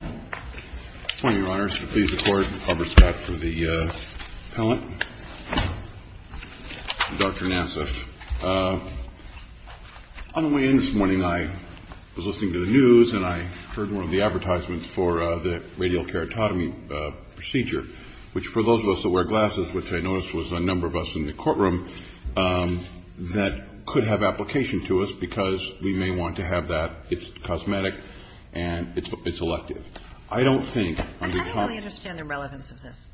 Good morning, Your Honors. Please accord the public's back for the appellant, Dr. Nassif. On the way in this morning, I was listening to the news, and I heard one of the advertisements for the radial keratotomy procedure, which for those of us that wear glasses, which I noticed was a number of us in the courtroom, that could have application to us because we may want to have that. It's cosmetic, and it's elective. I don't think, on behalf of the Court of Appeals, that it's not true. I don't really understand the relevance of this.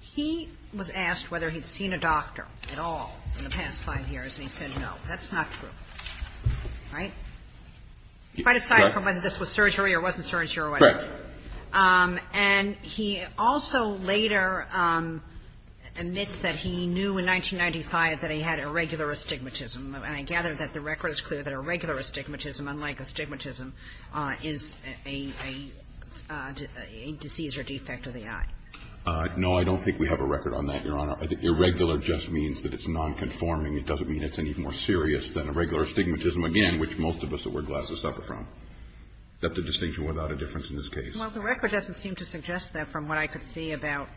He was asked whether he'd seen a doctor at all in the past five years, and he said no. That's not true, right? Quite aside from whether this was surgery or wasn't surgery or whatever. Correct. And he also later admits that he knew in 1995 that he had irregular astigmatism. And I gather that the record is clear that irregular astigmatism, unlike astigmatism, is a disease or defect of the eye. No, I don't think we have a record on that, Your Honor. Irregular just means that it's nonconforming. It doesn't mean it's any more serious than irregular astigmatism, again, which most of us that wear glasses suffer from. That's a distinction without a difference in this case. Well, the record doesn't seem to suggest that. From what I could see about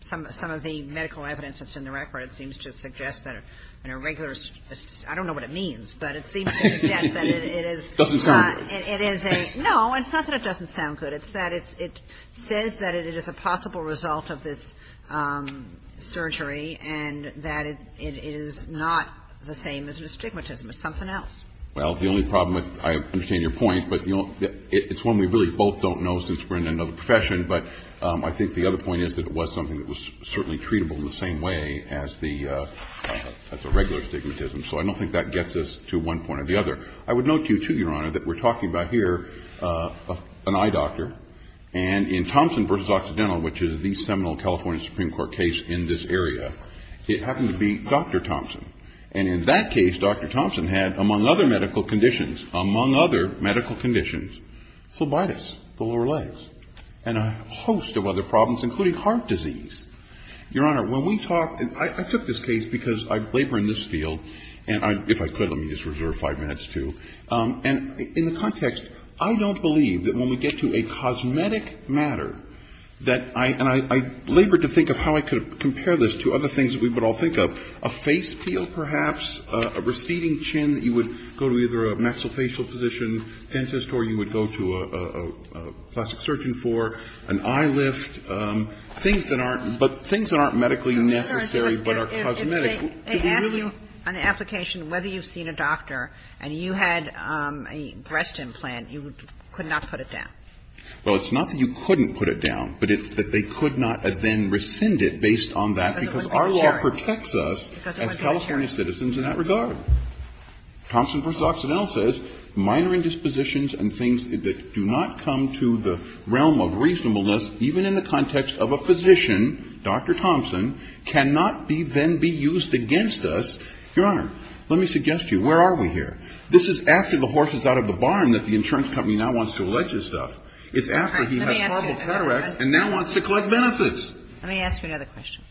some of the medical evidence that's in the record, it seems to suggest that an irregular I don't know what it means, but it seems to suggest that it is. It doesn't sound good. No, it's not that it doesn't sound good. It's that it says that it is a possible result of this surgery and that it is not the same as astigmatism. It's something else. Well, the only problem, I understand your point, but it's one we really both don't know since we're in another profession. But I think the other point is that it was something that was certainly treatable in the same way as the irregular astigmatism. So I don't think that gets us to one point or the other. I would note to you, too, Your Honor, that we're talking about here an eye doctor. And in Thompson v. Occidental, which is the seminal California Supreme Court case in this area, it happened to be Dr. Thompson. And in that case, Dr. Thompson had, among other medical conditions, among other medical conditions, phlebitis, the lower legs. And a host of other problems, including heart disease. Your Honor, when we talk — I took this case because I labor in this field, and if I could, let me just reserve five minutes, too. And in the context, I don't believe that when we get to a cosmetic matter that I — and I labored to think of how I could compare this to other things that we would all think of, a face peel, perhaps, a receding chin that you would go to either a maxillofacial physician dentist or you would go to a plastic surgeon for, an eye lift, things that aren't — but things that aren't medically necessary, but are cosmetic. If they ask you on the application whether you've seen a doctor and you had a breast implant, you could not put it down? Well, it's not that you couldn't put it down, but it's that they could not then rescind it based on that, because our law protects us as California citizens in that regard. Thompson v. Oxenell says minor indispositions and things that do not come to the realm of reasonableness, even in the context of a physician, Dr. Thompson, cannot be then be used against us. Your Honor, let me suggest to you, where are we here? This is after the horse is out of the barn that the insurance company now wants to allege his stuff. It's after he has horrible cataracts and now wants to collect benefits. Let me ask you another question.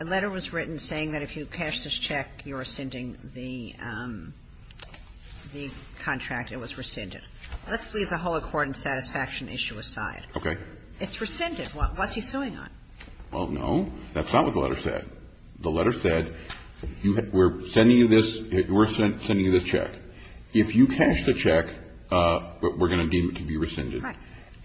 A letter was written saying that if you cash this check, you're rescinding the contract. It was rescinded. Let's leave the whole accord and satisfaction issue aside. Okay. It's rescinded. What's he suing on? Well, no. That's not what the letter said. The letter said we're sending you this check. If you cash the check, we're going to deem it to be rescinded.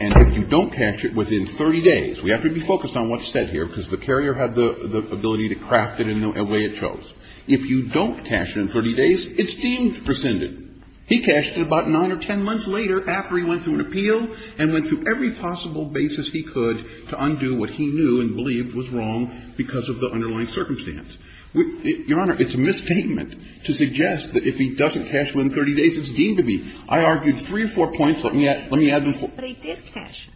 And if you don't cash it within 30 days, we have to be focused on what's said here, because the carrier had the ability to craft it in the way it shows. If you don't cash it in 30 days, it's deemed rescinded. He cashed it about 9 or 10 months later after he went through an appeal and went through every possible basis he could to undo what he knew and believed was wrong because of the underlying circumstance. Your Honor, it's a misstatement to suggest that if he doesn't cash within 30 days, it's deemed to be. I argued three or four points. Let me add them. But he did cash it.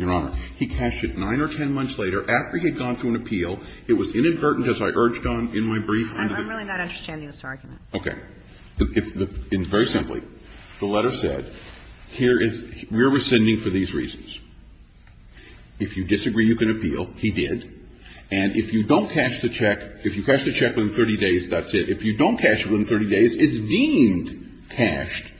Your Honor, he cashed it 9 or 10 months later after he had gone through an appeal. It was inadvertent, as I urged on in my brief. I'm really not understanding this argument. Okay. Very simply, the letter said here is we're rescinding for these reasons. If you disagree, you can appeal. He did. And if you don't cash the check, if you cash the check within 30 days, that's it. If you don't cash it within 30 days, it's deemed cashed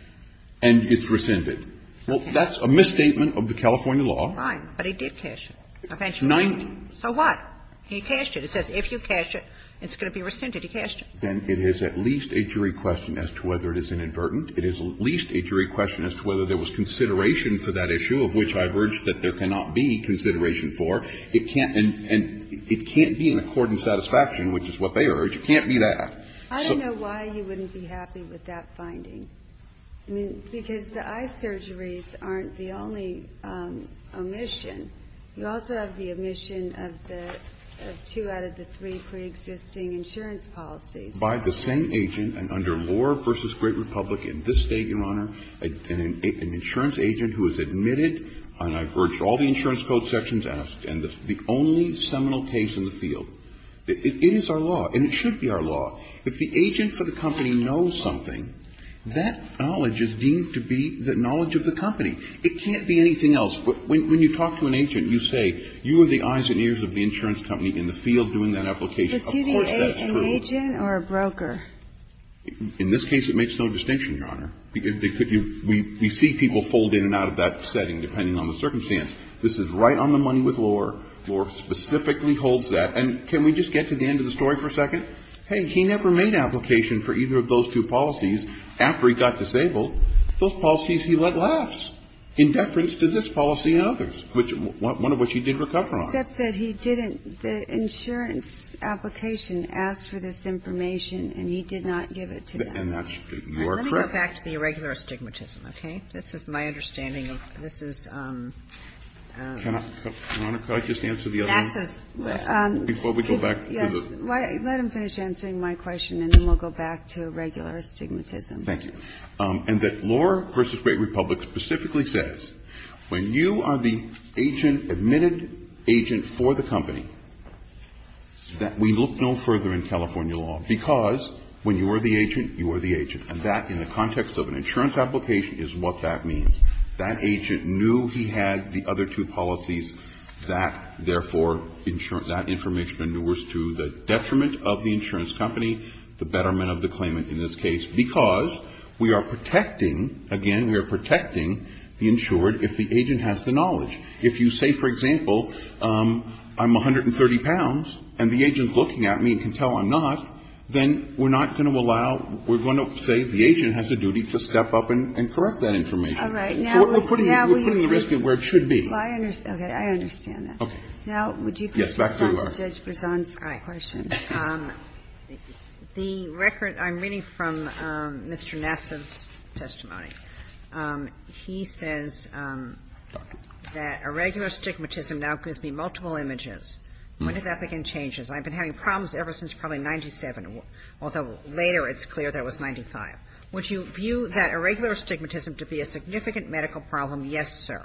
and it's rescinded. Well, that's a misstatement of the California law. Fine. But he did cash it. Eventually. So what? He cashed it. It says if you cash it, it's going to be rescinded. He cashed it. Then it is at least a jury question as to whether it is inadvertent. It is at least a jury question as to whether there was consideration for that issue, of which I've urged that there cannot be consideration for. It can't be an accordant satisfaction, which is what they urge. It can't be that. I don't know why you wouldn't be happy with that finding. I mean, because the eye surgeries aren't the only omission. You also have the omission of two out of the three preexisting insurance policies. By the same agent and under Lore v. Great Republic in this State, Your Honor, an insurance agent who has admitted, and I've urged all the insurance code sections asked, and the only seminal case in the field. It is our law, and it should be our law. If the agent for the company knows something, that knowledge is deemed to be the knowledge of the company. It can't be anything else. But when you talk to an agent, you say, you are the eyes and ears of the insurance company in the field doing that application. Of course that's true. But do you age an agent or a broker? In this case, it makes no distinction, Your Honor. We see people fold in and out of that setting depending on the circumstance. This is right on the money with Lore. Lore specifically holds that. And can we just get to the end of the story for a second? Hey, he never made application for either of those two policies after he got disabled. Those policies he led last. In deference to this policy and others, which one of which he did recover on. Except that he didn't. The insurance application asked for this information, and he did not give it to them. And that's your credit. Let me go back to the irregular astigmatism, okay? This is my understanding. This is. Your Honor, could I just answer the other one? Before we go back to the. Yes. Let him finish answering my question, and then we'll go back to irregular astigmatism. Thank you. And that Lore v. Great Republic specifically says, when you are the agent, admitted agent for the company, that we look no further in California law. Because when you are the agent, you are the agent. And that, in the context of an insurance application, is what that means. That agent knew he had the other two policies. That, therefore, that information endures to the detriment of the insurance company, the betterment of the claimant in this case, because we are protecting, again, we are protecting the insured if the agent has the knowledge. If you say, for example, I'm 130 pounds, and the agent's looking at me and can tell I'm not, then we're not going to allow, we're going to say the agent has a duty to step up and correct that information. We're putting the risk at where it should be. Okay. I understand that. Now, would you please respond to Judge Bresson's question? The record I'm reading from Mr. Nassif's testimony, he says that irregular stigmatism now gives me multiple images. When did that begin changes? I've been having problems ever since probably 97, although later it's clear that it was 95. Would you view that irregular stigmatism to be a significant medical problem? Yes, sir.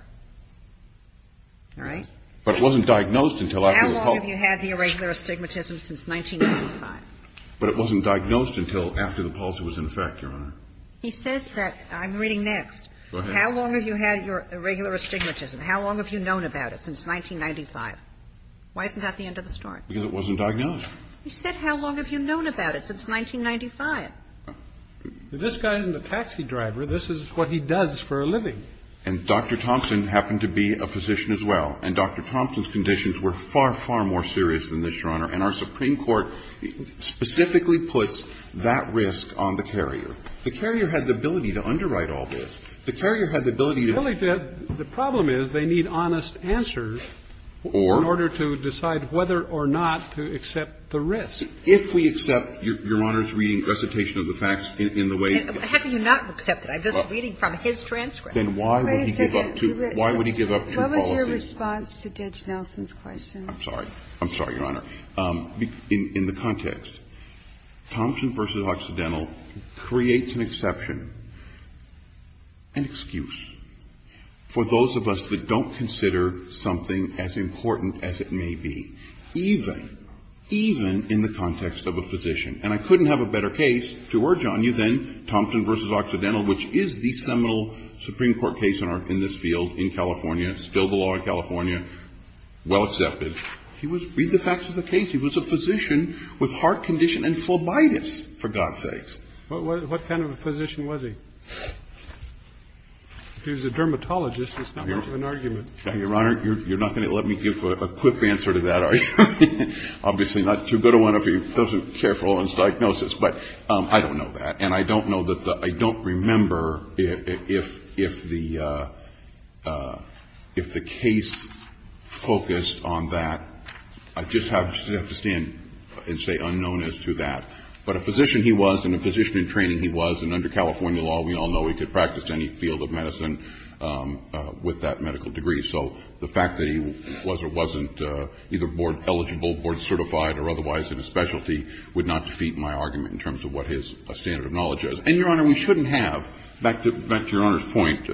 All right? But it wasn't diagnosed until I was home. How long have you had the irregular stigmatism since 1995? But it wasn't diagnosed until after the pulse was in effect, Your Honor. He says that, I'm reading next. Go ahead. How long have you had your irregular stigmatism? How long have you known about it since 1995? Why isn't that the end of the story? Because it wasn't diagnosed. He said how long have you known about it since 1995? This guy isn't a taxi driver. This is what he does for a living. And Dr. Thompson happened to be a physician as well. And Dr. Thompson's conditions were far, far more serious than this, Your Honor, and our Supreme Court specifically puts that risk on the carrier. The carrier had the ability to underwrite all this. The carrier had the ability to do it. The problem is they need honest answers in order to decide whether or not to accept the risk. If we accept Your Honor's reading, recitation of the facts in the way he did. How can you not accept it? I'm just reading from his transcript. Then why would he give up two policies? What was your response to Judge Nelson's question? I'm sorry. I'm sorry, Your Honor. In the context, Thompson v. Occidental creates an exception, an excuse, for those of us that don't consider something as important as it may be, even, even in the context of a physician. And I couldn't have a better case to urge on you than Thompson v. Occidental, which is the seminal Supreme Court case in this field in California. It's still the law in California. Well accepted. Read the facts of the case. He was a physician with heart condition and phlebitis, for God's sakes. What kind of a physician was he? If he was a dermatologist, there's not much of an argument. Your Honor, you're not going to let me give a quick answer to that, are you? Obviously not too good of one of you. Those who care for Owen's diagnosis. But I don't know that. I don't remember if the case focused on that. I just have to stand and say unknown as to that. But a physician he was, and a physician in training he was, and under California law, we all know he could practice any field of medicine with that medical degree. So the fact that he was or wasn't either board eligible, board certified, or otherwise in a specialty would not defeat my argument in terms of what his standard of knowledge is. And, Your Honor, we shouldn't have, back to Your Honor's point,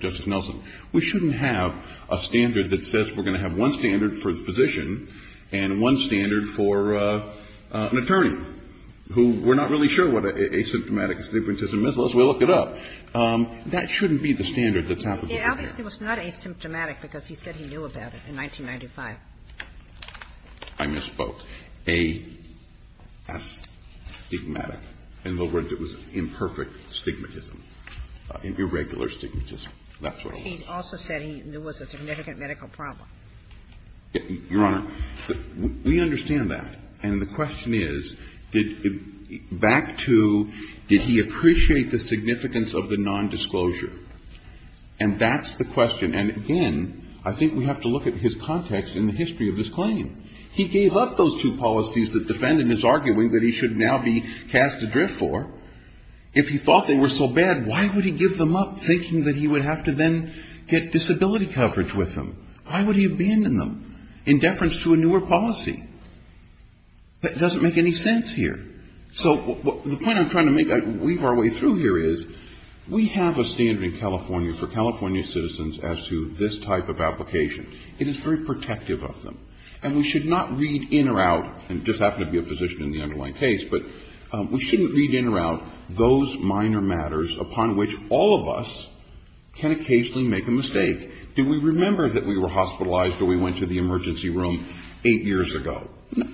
Justice Nelson, we shouldn't have a standard that says we're going to have one standard for the physician and one standard for an attorney, who we're not really sure what asymptomatic assymptomatism is. Let's look it up. That shouldn't be the standard that's applicable here. Obviously it was not asymptomatic because he said he knew about it in 1995. I misspoke. Astigmatic. In other words, it was imperfect stigmatism, irregular stigmatism. That's what it was. He also said there was a significant medical problem. Your Honor, we understand that. And the question is, back to did he appreciate the significance of the nondisclosure? And that's the question. And, again, I think we have to look at his context in the history of this claim. He gave up those two policies that defendant is arguing that he should now be cast adrift for. If he thought they were so bad, why would he give them up, thinking that he would have to then get disability coverage with them? Why would he abandon them in deference to a newer policy? That doesn't make any sense here. So the point I'm trying to make, weave our way through here, is we have a standard in California for California citizens as to this type of application. It is very protective of them. And we should not read in or out, and I just happen to be a physician in the underlying case, but we shouldn't read in or out those minor matters upon which all of us can occasionally make a mistake. Do we remember that we were hospitalized or we went to the emergency room eight years ago?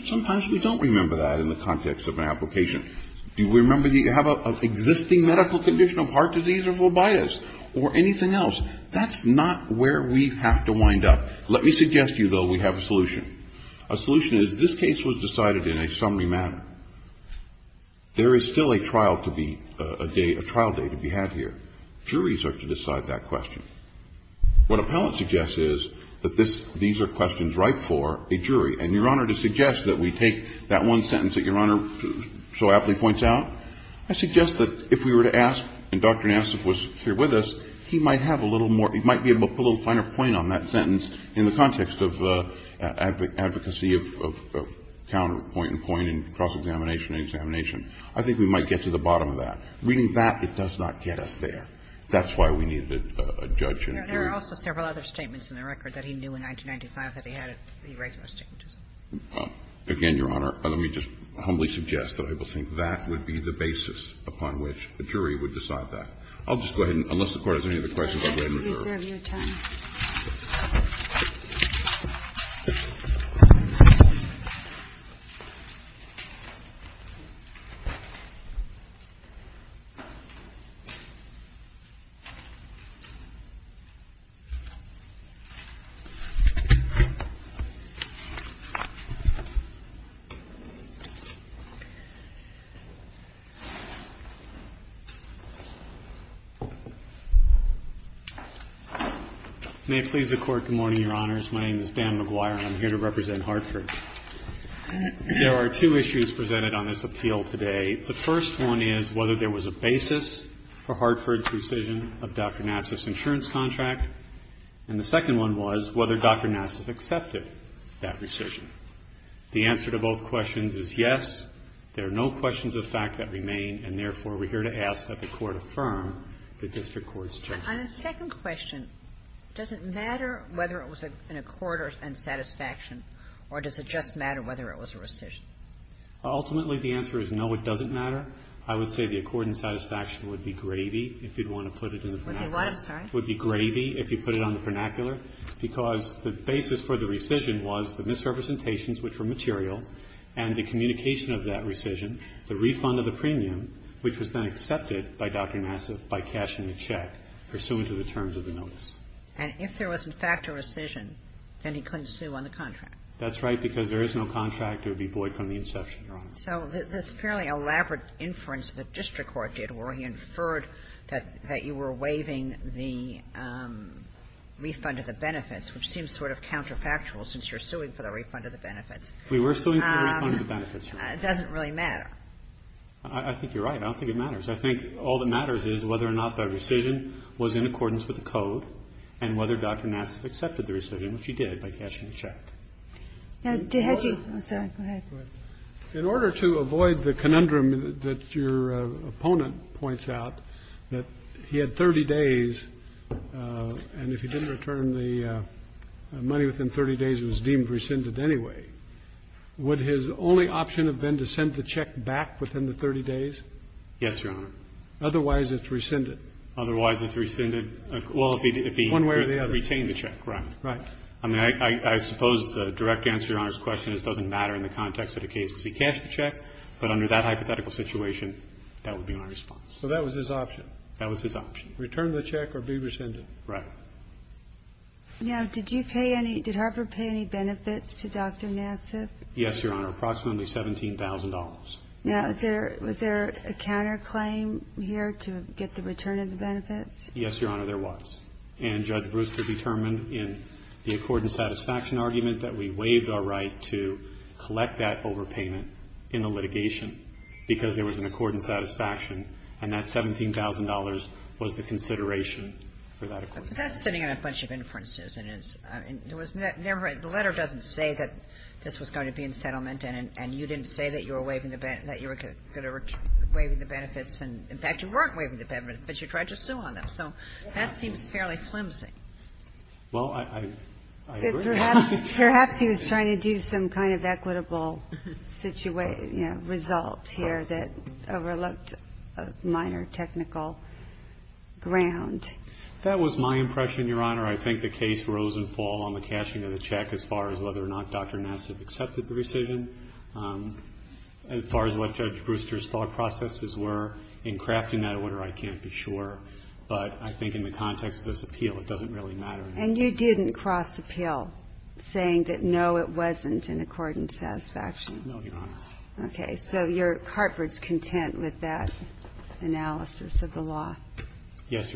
Sometimes we don't remember that in the context of an application. Do we remember that you have an existing medical condition of heart disease or phlebitis or anything else? That's not where we have to wind up. Let me suggest to you, though, we have a solution. A solution is this case was decided in a summary manner. There is still a trial to be a day, a trial day to be had here. Juries are to decide that question. What appellant suggests is that this, these are questions ripe for a jury. And, Your Honor, to suggest that we take that one sentence that Your Honor so aptly points out, I suggest that if we were to ask, and Dr. Nassif was here with us, he might have a little more, he might be able to put a little finer point on that sentence in the context of advocacy of counterpoint and point and cross-examination and examination, I think we might get to the bottom of that. Reading that, it does not get us there. That's why we needed a judge and a jury. There are also several other statements in the record that he knew in 1995 that he had irregular statements. Again, Your Honor, let me just humbly suggest that I will think that would be the basis upon which a jury would decide that. I'll just go ahead, unless the Court has any other questions, I'll go ahead and return. May it please the Court, good morning, Your Honors. My name is Dan McGuire, and I'm here to represent Hartford. There are two issues presented on this appeal today. The first one is whether there was a basis for Hartford's rescission of Dr. Nassif's insurance contract. And the second one was whether Dr. Nassif accepted that rescission. The answer to both questions is yes, there are no questions of fact that remain, and therefore, we're here to ask that the Court affirm the district court's judgment. On the second question, does it matter whether it was an accord and satisfaction, or does it just matter whether it was a rescission? Ultimately, the answer is no, it doesn't matter. I would say the accord and satisfaction would be gravy if you'd want to put it in the vernacular. Would be what, I'm sorry? Would be gravy if you put it on the vernacular, because the basis for the rescission was the misrepresentations, which were material, and the communication of that rescission, the refund of the premium, which was then accepted by Dr. Nassif by cashing the check pursuant to the terms of the notice. And if there was, in fact, a rescission, then he couldn't sue on the contract. That's right, because there is no contract to be void from the inception, Your Honor. So this fairly elaborate inference the district court did where he inferred that you were waiving the refund of the benefits, which seems sort of counterfactual since you're suing for the refund of the benefits. We were suing for the refund of the benefits, Your Honor. It doesn't really matter. I think you're right. I don't think it matters. I think all that matters is whether or not the rescission was in accordance with the code, and whether Dr. Nassif accepted the rescission, which he did, by cashing the check. In order to avoid the conundrum that your opponent points out, that he had 30 days, and if he didn't return the money within 30 days, it was deemed rescinded anyway. Would his only option have been to send the check back within the 30 days? Yes, Your Honor. Otherwise, it's rescinded. Otherwise, it's rescinded. Well, if he retained the check, right. Right. I mean, I suppose the direct answer to Your Honor's question is it doesn't matter in the context of the case because he cashed the check, but under that hypothetical situation, that would be my response. So that was his option. That was his option. Return the check or be rescinded. Right. Now, did you pay any, did Harper pay any benefits to Dr. Nassif? Yes, Your Honor. Approximately $17,000. Now, was there a counterclaim here to get the return of the benefits? Yes, Your Honor. There was. And Judge Brewster determined in the accord and satisfaction argument that we waived our right to collect that overpayment in the litigation because there was an accord and satisfaction, and that $17,000 was the consideration for that accord. Well, that's sitting in a bunch of inferences, and it was never, the letter doesn't say that this was going to be in settlement, and you didn't say that you were waiving the benefits, and in fact, you weren't waiving the benefits, but you tried to sue on them. So that seems fairly flimsy. Well, I agree. Perhaps he was trying to do some kind of equitable result here that overlooked minor technical ground. That was my impression, Your Honor. I think the case rose and fall on the cashing of the check as far as whether or not Dr. Nassif accepted the decision. As far as what Judge Brewster's thought processes were in crafting that order, I can't be sure, but I think in the context of this appeal, it doesn't really matter. And you didn't cross appeal saying that, no, it wasn't in accord and satisfaction? No, Your Honor. Okay. Yes, Your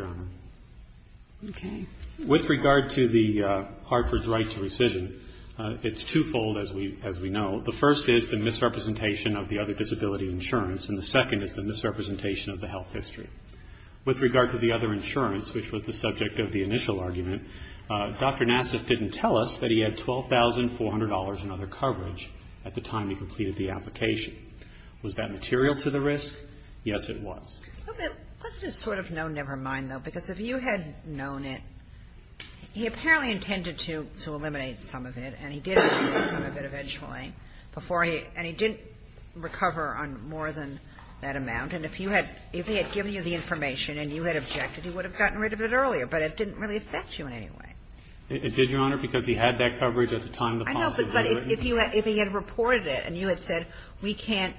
Honor. Okay. With regard to the Hartford's right to rescission, it's twofold, as we know. The first is the misrepresentation of the other disability insurance, and the second is the misrepresentation of the health history. With regard to the other insurance, which was the subject of the initial argument, Dr. Nassif didn't tell us that he had $12,400 in other coverage at the time he completed the application. Was that material to the risk? Yes, it was. Let's just sort of know, never mind, though, because if you had known it, he apparently intended to eliminate some of it, and he did eliminate some of it eventually before he – and he didn't recover on more than that amount. And if you had – if he had given you the information and you had objected, he would have gotten rid of it earlier, but it didn't really affect you in any way. It did, Your Honor, because he had that coverage at the time the policy was written. I know, but if he had reported it and you had said, we can't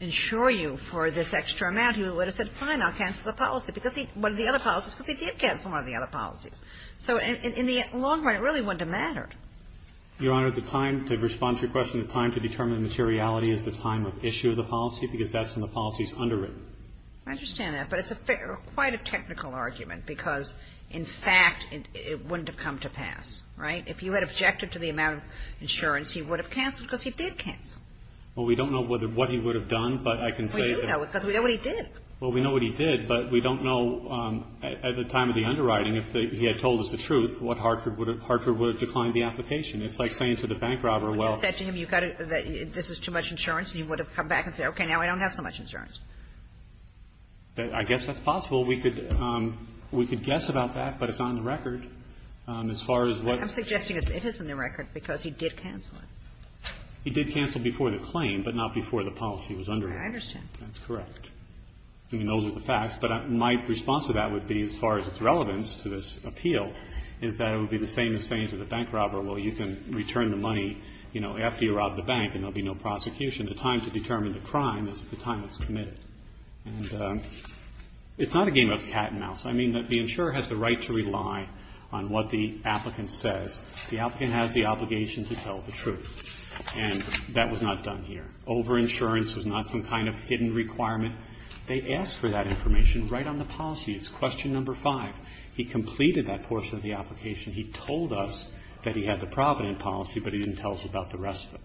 insure you for this extra amount, he would have said, fine, I'll cancel the policy, because he – one of the other policies, because he did cancel one of the other policies. So in the long run, it really wouldn't have mattered. Your Honor, the time to respond to your question, the time to determine the materiality is the time of issue of the policy, because that's when the policy is underwritten. I understand that, but it's quite a technical argument, because in fact, it wouldn't have come to pass. Right? If you had objected to the amount of insurance, he would have canceled, because he did cancel. Well, we don't know what he would have done, but I can say that – Well, we do know it, because we know what he did. Well, we know what he did, but we don't know at the time of the underwriting if he had told us the truth, what Hartford would have – Hartford would have declined the application. It's like saying to the bank robber, well – If you had said to him, you've got to – this is too much insurance, he would have come back and said, okay, now I don't have so much insurance. I guess that's possible. We could guess about that, but it's not in the record. As far as what – I'm suggesting it is in the record, because he did cancel it. He did cancel before the claim, but not before the policy was underwritten. I understand. That's correct. I mean, those are the facts. But my response to that would be, as far as its relevance to this appeal, is that it would be the same as saying to the bank robber, well, you can return the money, you know, after you rob the bank and there will be no prosecution. The time to determine the crime is the time it's committed. And it's not a game of cat and mouse. I mean, the insurer has the right to rely on what the applicant says. The applicant has the obligation to tell the truth. And that was not done here. Over-insurance was not some kind of hidden requirement. They asked for that information right on the policy. It's question number five. He completed that portion of the application. He told us that he had the Provident policy, but he didn't tell us about the rest of it.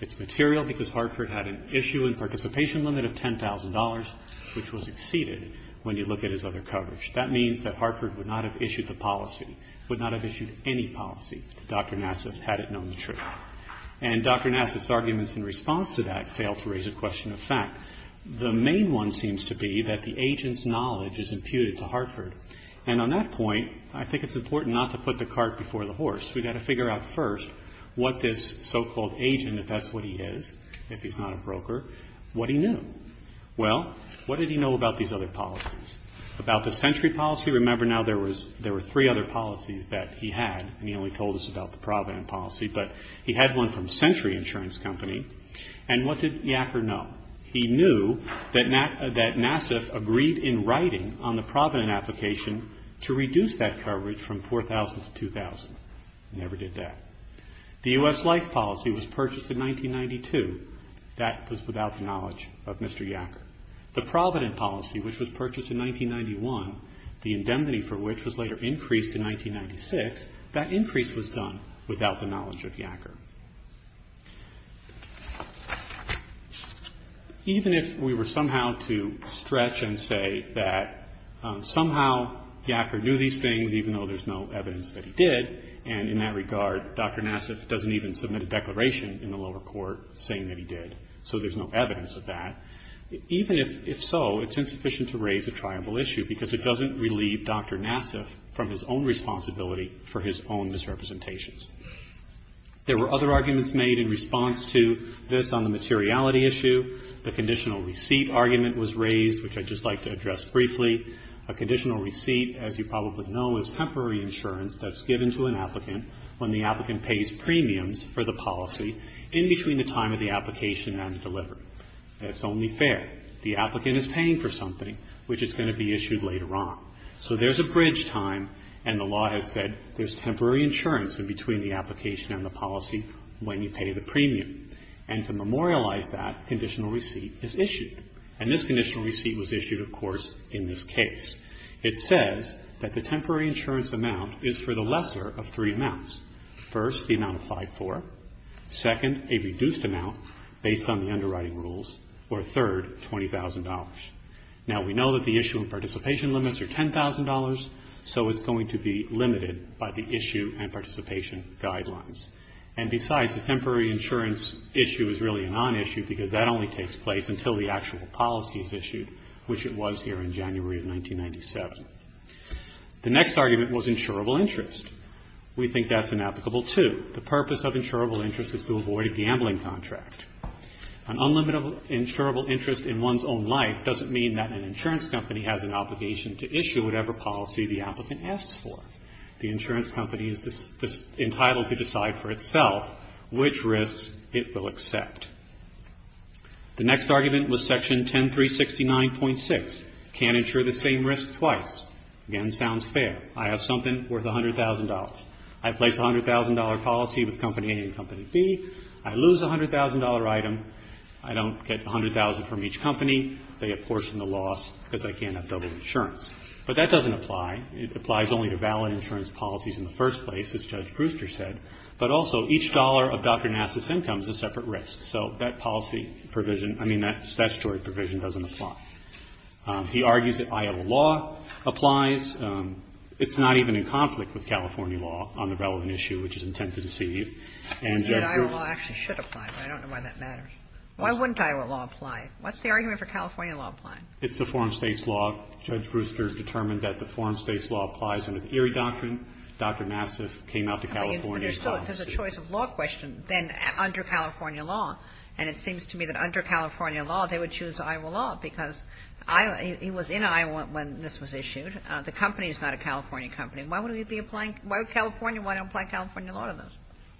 It's material because Hartford had an issue and participation limit of $10,000, which was exceeded when you look at his other coverage. That means that Hartford would not have issued the policy, would not have issued any policy, if Dr. Nassif had it known the truth. And Dr. Nassif's arguments in response to that fail to raise a question of fact. The main one seems to be that the agent's knowledge is imputed to Hartford. And on that point, I think it's important not to put the cart before the horse. We've got to figure out first what this so-called agent, if that's what he is, if he's not a broker, what he knew. Well, what did he know about these other policies? About the century policy, remember now there were three other policies that he had, and he only told us about the Provident policy. But he had one from Century Insurance Company. And what did Yacker know? He knew that Nassif agreed in writing on the Provident application to reduce that coverage from $4,000 to $2,000. He never did that. The U.S. life policy was purchased in 1992. That was without the knowledge of Mr. Yacker. The Provident policy, which was purchased in 1991, the indemnity for which was later increased in 1996, that increase was done without the knowledge of Yacker. Even if we were somehow to stretch and say that somehow Yacker knew these things, even though there's no evidence that he did, and in that regard, Dr. Nassif doesn't even submit a declaration in the lower court saying that he did. So there's no evidence of that. Even if so, it's insufficient to raise a triable issue, because it doesn't relieve Dr. Nassif from his own responsibility for his own misrepresentations. There were other arguments made in response to this on the materiality issue. The conditional receipt argument was raised, which I'd just like to address briefly. A conditional receipt, as you probably know, is temporary insurance that's given to an applicant when the applicant pays premiums for the policy in between the time of the application and delivery. That's only fair. The applicant is paying for something, which is going to be issued later on. So there's a bridge time, and the law has said there's temporary insurance in between the application and the policy when you pay the premium. And to memorialize that, conditional receipt is issued. And this conditional receipt was issued, of course, in this case. It says that the temporary insurance amount is for the lesser of three amounts. First, the amount applied for. Second, a reduced amount based on the underwriting rules. Or third, $20,000. Now, we know that the issue and participation limits are $10,000, so it's going to be limited by the issue and participation guidelines. And besides, the temporary insurance issue is really a nonissue because that only takes place until the actual policy is issued, which it was here in January of 1997. The next argument was insurable interest. We think that's inapplicable, too. The purpose of insurable interest is to avoid a gambling contract. An unlimited insurable interest in one's own life doesn't mean that an insurance company has an obligation to issue whatever policy the applicant asks for. The insurance company is entitled to decide for itself which risks it will accept. The next argument was Section 10369.6, can't insure the same risk twice. Again, sounds fair. I have something worth $100,000. I place a $100,000 policy with Company A and Company B. I lose a $100,000 item. I don't get $100,000 from each company. They apportion the loss because they can't have double insurance. But that doesn't apply. It applies only to valid insurance policies in the first place, as Judge Brewster said, but also each dollar of Dr. Nassif's income is a separate risk. So that policy provision, I mean, that statutory provision doesn't apply. He argues that Iowa law applies. It's not even in conflict with California law on the relevant issue, which is intent to deceive. And Judge Brewster ---- And that Iowa law actually should apply, but I don't know why that matters. Why wouldn't Iowa law apply? What's the argument for California law applying? It's the foreign states law. Judge Brewster determined that the foreign states law applies under the Erie Doctrine. Dr. Nassif came out to California and filed the suit. But there's still a choice of law question then under California law. And it seems to me that under California law, they would choose Iowa law because he was in Iowa when this was issued. The company is not a California company. Why would we be applying to California? Why don't we apply California law to this?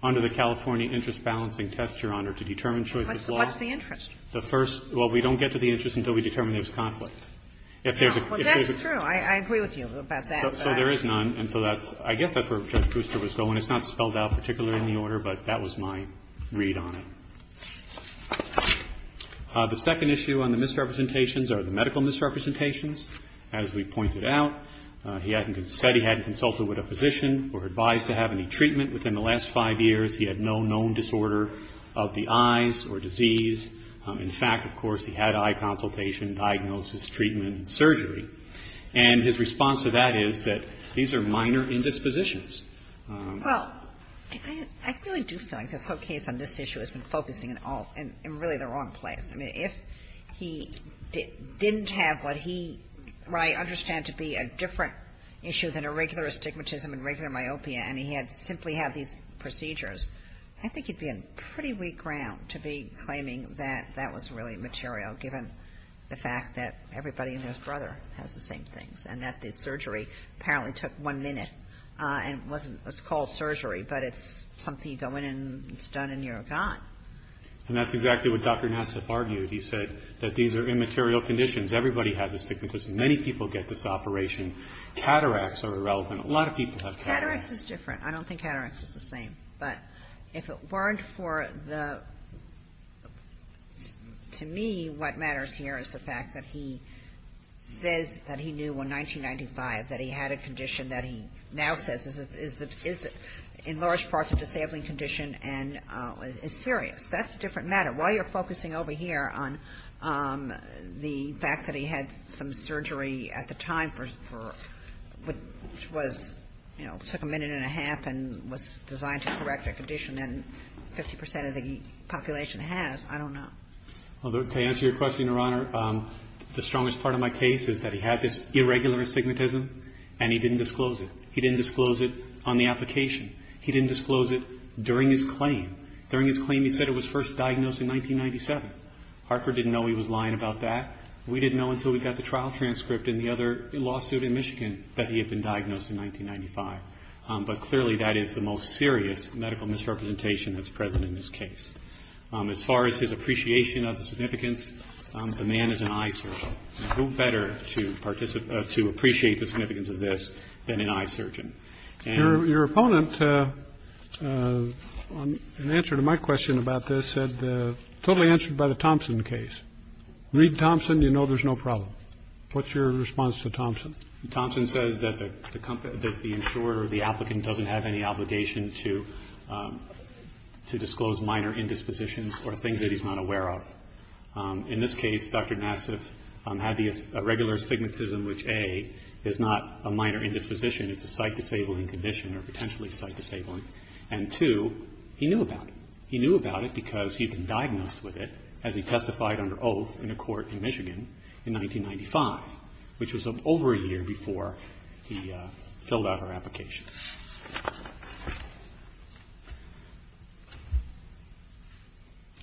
Under the California interest balancing test, Your Honor, to determine choice of law. What's the interest? The first ---- well, we don't get to the interest until we determine there's conflict. If there's a ---- No. Well, that's true. I agree with you about that. So there is none. And so that's ---- I guess that's where Judge Brewster was going. It's not spelled out particularly in the order, but that was my read on it. The second issue on the misrepresentations are the medical misrepresentations. As we pointed out, he hadn't said he hadn't consulted with a physician or advised to have any treatment within the last five years. He had no known disorder of the eyes or disease. In fact, of course, he had eye consultation, diagnosis, treatment, and surgery. And his response to that is that these are minor indispositions. Well, I really do feel like this whole case on this issue has been focusing in all ---- in really the wrong place. I mean, if he didn't have what he ---- what I understand to be a different issue than a regular astigmatism and regular myopia, and he had simply had these procedures, I think he'd be on pretty weak ground to be claiming that that was really material, given the fact that everybody and his brother has the same things and that the surgery apparently took one minute and wasn't ---- it's called surgery, but it's something you go in and it's done and you're gone. And that's exactly what Dr. Nassif argued. He said that these are immaterial conditions. Everybody has astigmatism. Many people get this operation. Cataracts are irrelevant. A lot of people have cataracts. Cataracts is different. I don't think cataracts is the same. But if it weren't for the ---- to me, what matters here is the fact that he says that he knew in 1995 that he had a condition that he now says is in large part a disabling condition and is serious. That's a different matter. While you're focusing over here on the fact that he had some surgery at the time for what was, you know, took a minute and a half and was designed to correct a condition that 50 percent of the population has, I don't know. Well, to answer your question, Your Honor, the strongest part of my case is that he had this irregular astigmatism and he didn't disclose it. He didn't disclose it on the application. He didn't disclose it during his claim. During his claim, he said it was first diagnosed in 1997. Hartford didn't know he was lying about that. We didn't know until we got the trial transcript and the other lawsuit in Michigan that he had been diagnosed in 1995. But clearly that is the most serious medical misrepresentation that's present in this case. As far as his appreciation of the significance, the man is an eye surgeon. Who better to appreciate the significance of this than an eye surgeon? Your opponent, in answer to my question about this, said totally answered by the Thompson case. Thompson, you know, there's no problem. What's your response to Thompson? Thompson says that the company that the insurer or the applicant doesn't have any obligation to to disclose minor indispositions or things that he's not aware of. In this case, Dr. Nassif had the regular astigmatism, which a is not a minor indisposition. It's a sight-disabling condition or potentially sight-disabling. And two, he knew about it. He knew about it because he'd been diagnosed with it as he testified under oath in a court in Michigan in 1995, which was over a year before he filled out our application.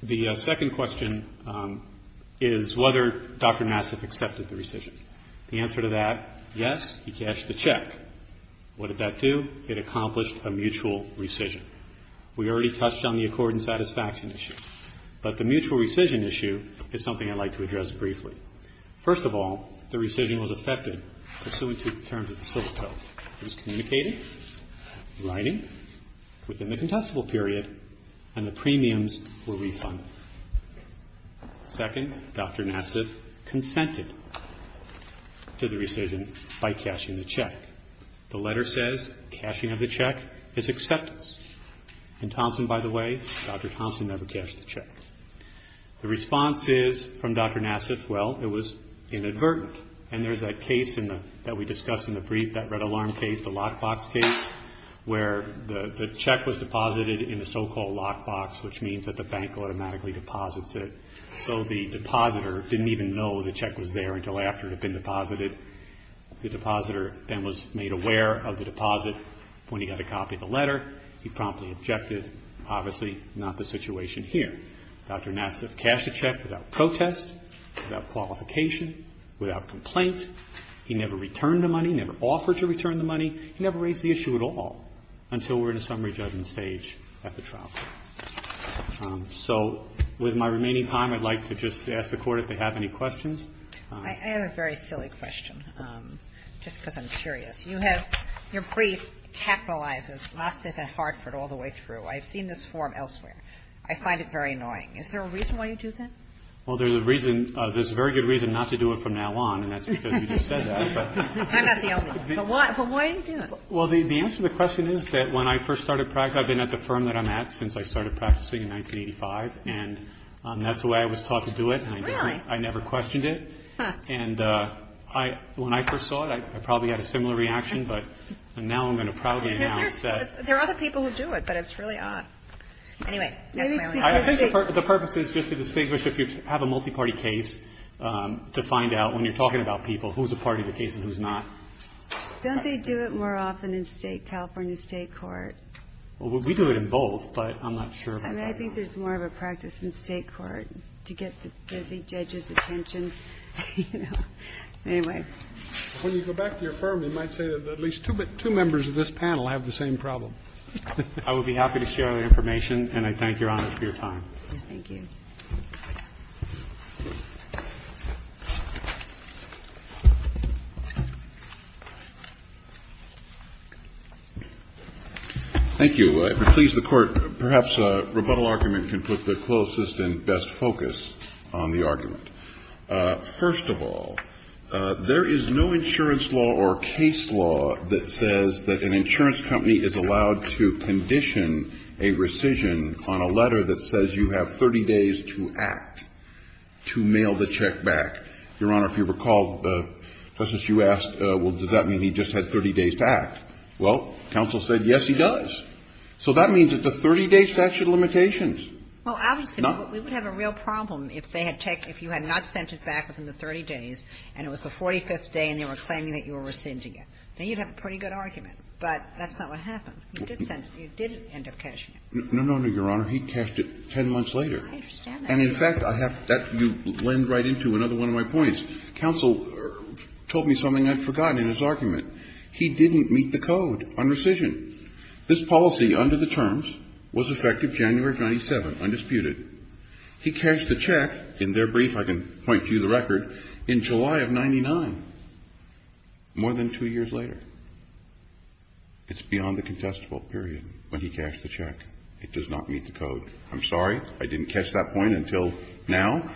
The second question is whether Dr. Nassif accepted the rescission. The answer to that, yes, he cashed the check. What did that do? It accomplished a mutual rescission. We already touched on the accord and satisfaction issue. But the mutual rescission issue is something I'd like to address briefly. First of all, the rescission was effective pursuant to the terms of the civil code. It was communicated, writing, within the contestable period, and the premiums were refunded. Second, Dr. Nassif consented to the rescission by cashing the check. The letter says cashing of the check is acceptance. In Thompson, by the way, Dr. Thompson never cashed the check. The response is from Dr. Nassif, well, it was inadvertent. And there's a case that we discussed in the brief, that red alarm case, the lockbox case, where the check was deposited in the so-called lockbox, which means that the bank automatically deposits it. So the depositor didn't even know the check was there until after it had been deposited. The depositor then was made aware of the deposit when he got a copy of the letter. He promptly objected. Obviously not the situation here. Dr. Nassif cashed the check without protest, without qualification, without complaint. He never returned the money, never offered to return the money. He never raised the issue at all until we're in a summary judgment stage at the trial. So with my remaining time, I'd like to just ask the Court if they have any questions. I have a very silly question, just because I'm curious. You have your brief capitalizes Nassif and Hartford all the way through. I've seen this form elsewhere. I find it very annoying. Is there a reason why you do that? Well, there's a reason. There's a very good reason not to do it from now on, and that's because you just said that. I'm not the only one. Well, why do you do it? Well, the answer to the question is that when I first started practicing, I've been at the firm that I'm at since I started practicing in 1985, and that's the way I was taught to do it. Really? I never questioned it. And when I first saw it, I probably had a similar reaction, but now I'm going to probably announce that. There are other people who do it, but it's really odd. Anyway, that's my only question. I think the purpose is just to distinguish if you have a multiparty case, to find out when you're talking about people who's a part of the case and who's not. Don't they do it more often in California state court? Well, we do it in both, but I'm not sure about that. I think there's more of a practice in state court to get the busy judge's attention. Anyway. When you go back to your firm, you might say that at least two members of this panel have the same problem. I would be happy to share that information, and I thank Your Honor for your time. Thank you. Thank you. If it pleases the Court, perhaps a rebuttal argument can put the closest and best focus on the argument. First of all, there is no insurance law or case law that says that an insurance company is allowed to condition a rescission on a letter that says you have 30 days to act, to mail the check back. Your Honor, if you recall, Justice, you asked, well, does that mean he just had 30 days to act? Well, counsel said, yes, he does. So that means it's a 30-day statute of limitations. Well, I was going to say, but we would have a real problem if they had checked if you had not sent it back within the 30 days and it was the 45th day and they were claiming that you were rescinding it. Now, you'd have a pretty good argument, but that's not what happened. You did send it. You did end up cashing it. No, no, no, Your Honor. He cashed it 10 months later. I understand that. And in fact, I have to lend right into another one of my points. Counsel told me something I'd forgotten in his argument. He didn't meet the code on rescission. This policy under the terms was effective January of 1997, undisputed. He cashed the check, in their brief, I can point to you the record, in July of 99, more than two years later. It's beyond the contestable period when he cashed the check. It does not meet the code. I'm sorry I didn't catch that point until now.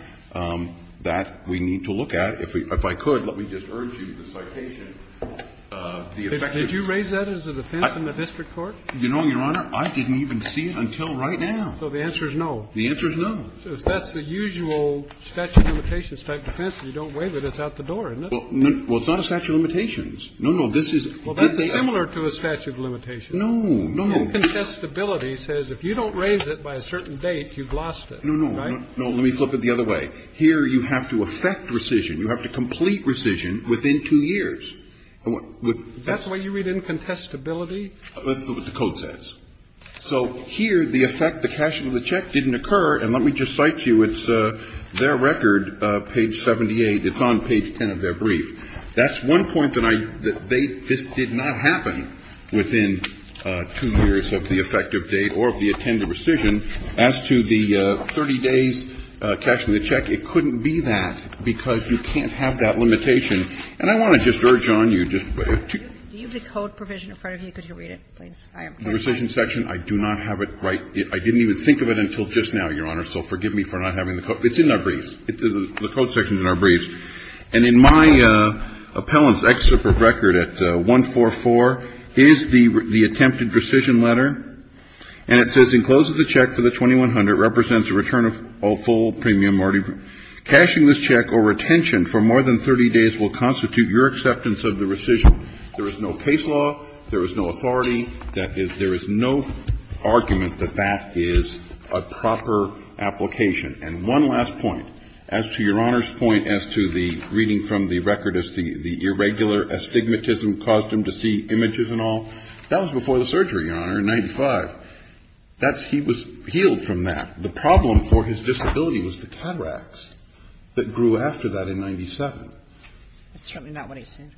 That we need to look at. If I could, let me just urge you, the citation of the effective date. Did you raise that as a defense in the district court? You know, Your Honor, I didn't even see it until right now. So the answer is no. The answer is no. So if that's the usual statute of limitations-type defense, if you don't waive it, it's out the door, isn't it? Well, it's not a statute of limitations. No, no. This is. Well, that's similar to a statute of limitations. No, no. Incontestability says if you don't raise it by a certain date, you've lost it. No, no. Right? No. Let me flip it the other way. Here you have to effect rescission. You have to complete rescission within two years. Is that the way you read incontestability? Let's look at what the code says. So here, the effect, the cashing of the check didn't occur. And let me just cite to you, it's their record, page 78. It's on page 10 of their brief. That's one point that I, they, this did not happen within two years of the effective date or of the attended rescission. As to the 30 days cashing of the check, it couldn't be that because you can't have that limitation. And I want to just urge on you just to- Do you have the code provision in front of you? Could you read it, please? The rescission section, I do not have it right. I didn't even think of it until just now, Your Honor. So forgive me for not having the code. It's in our brief. The code section is in our brief. And in my appellant's excerpt of record at 144 is the attempted rescission letter. And it says, In close of the check for the 2100 represents a return of all full premium already cashed. Cashing this check or retention for more than 30 days will constitute your acceptance of the rescission. There is no case law. There is no authority. There is no argument that that is a proper application. And one last point. As to Your Honor's point as to the reading from the record as the irregular astigmatism caused him to see images and all, that was before the surgery, Your Honor, in 1995. He was healed from that. The problem for his disability was the cataracts that grew after that in 1997. That's certainly not what I said.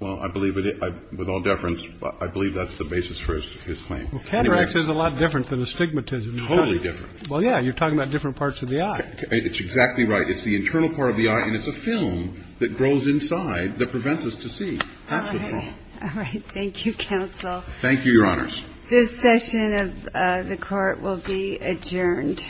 Well, I believe with all deference, I believe that's the basis for his claim. Well, cataracts is a lot different than astigmatism. Totally different. Well, yeah. You're talking about different parts of the eye. It's exactly right. It's the internal part of the eye. And it's a film that grows inside that prevents us to see. That's the problem. All right. Thank you, counsel. Thank you, Your Honors. This session of the Court will be adjourned.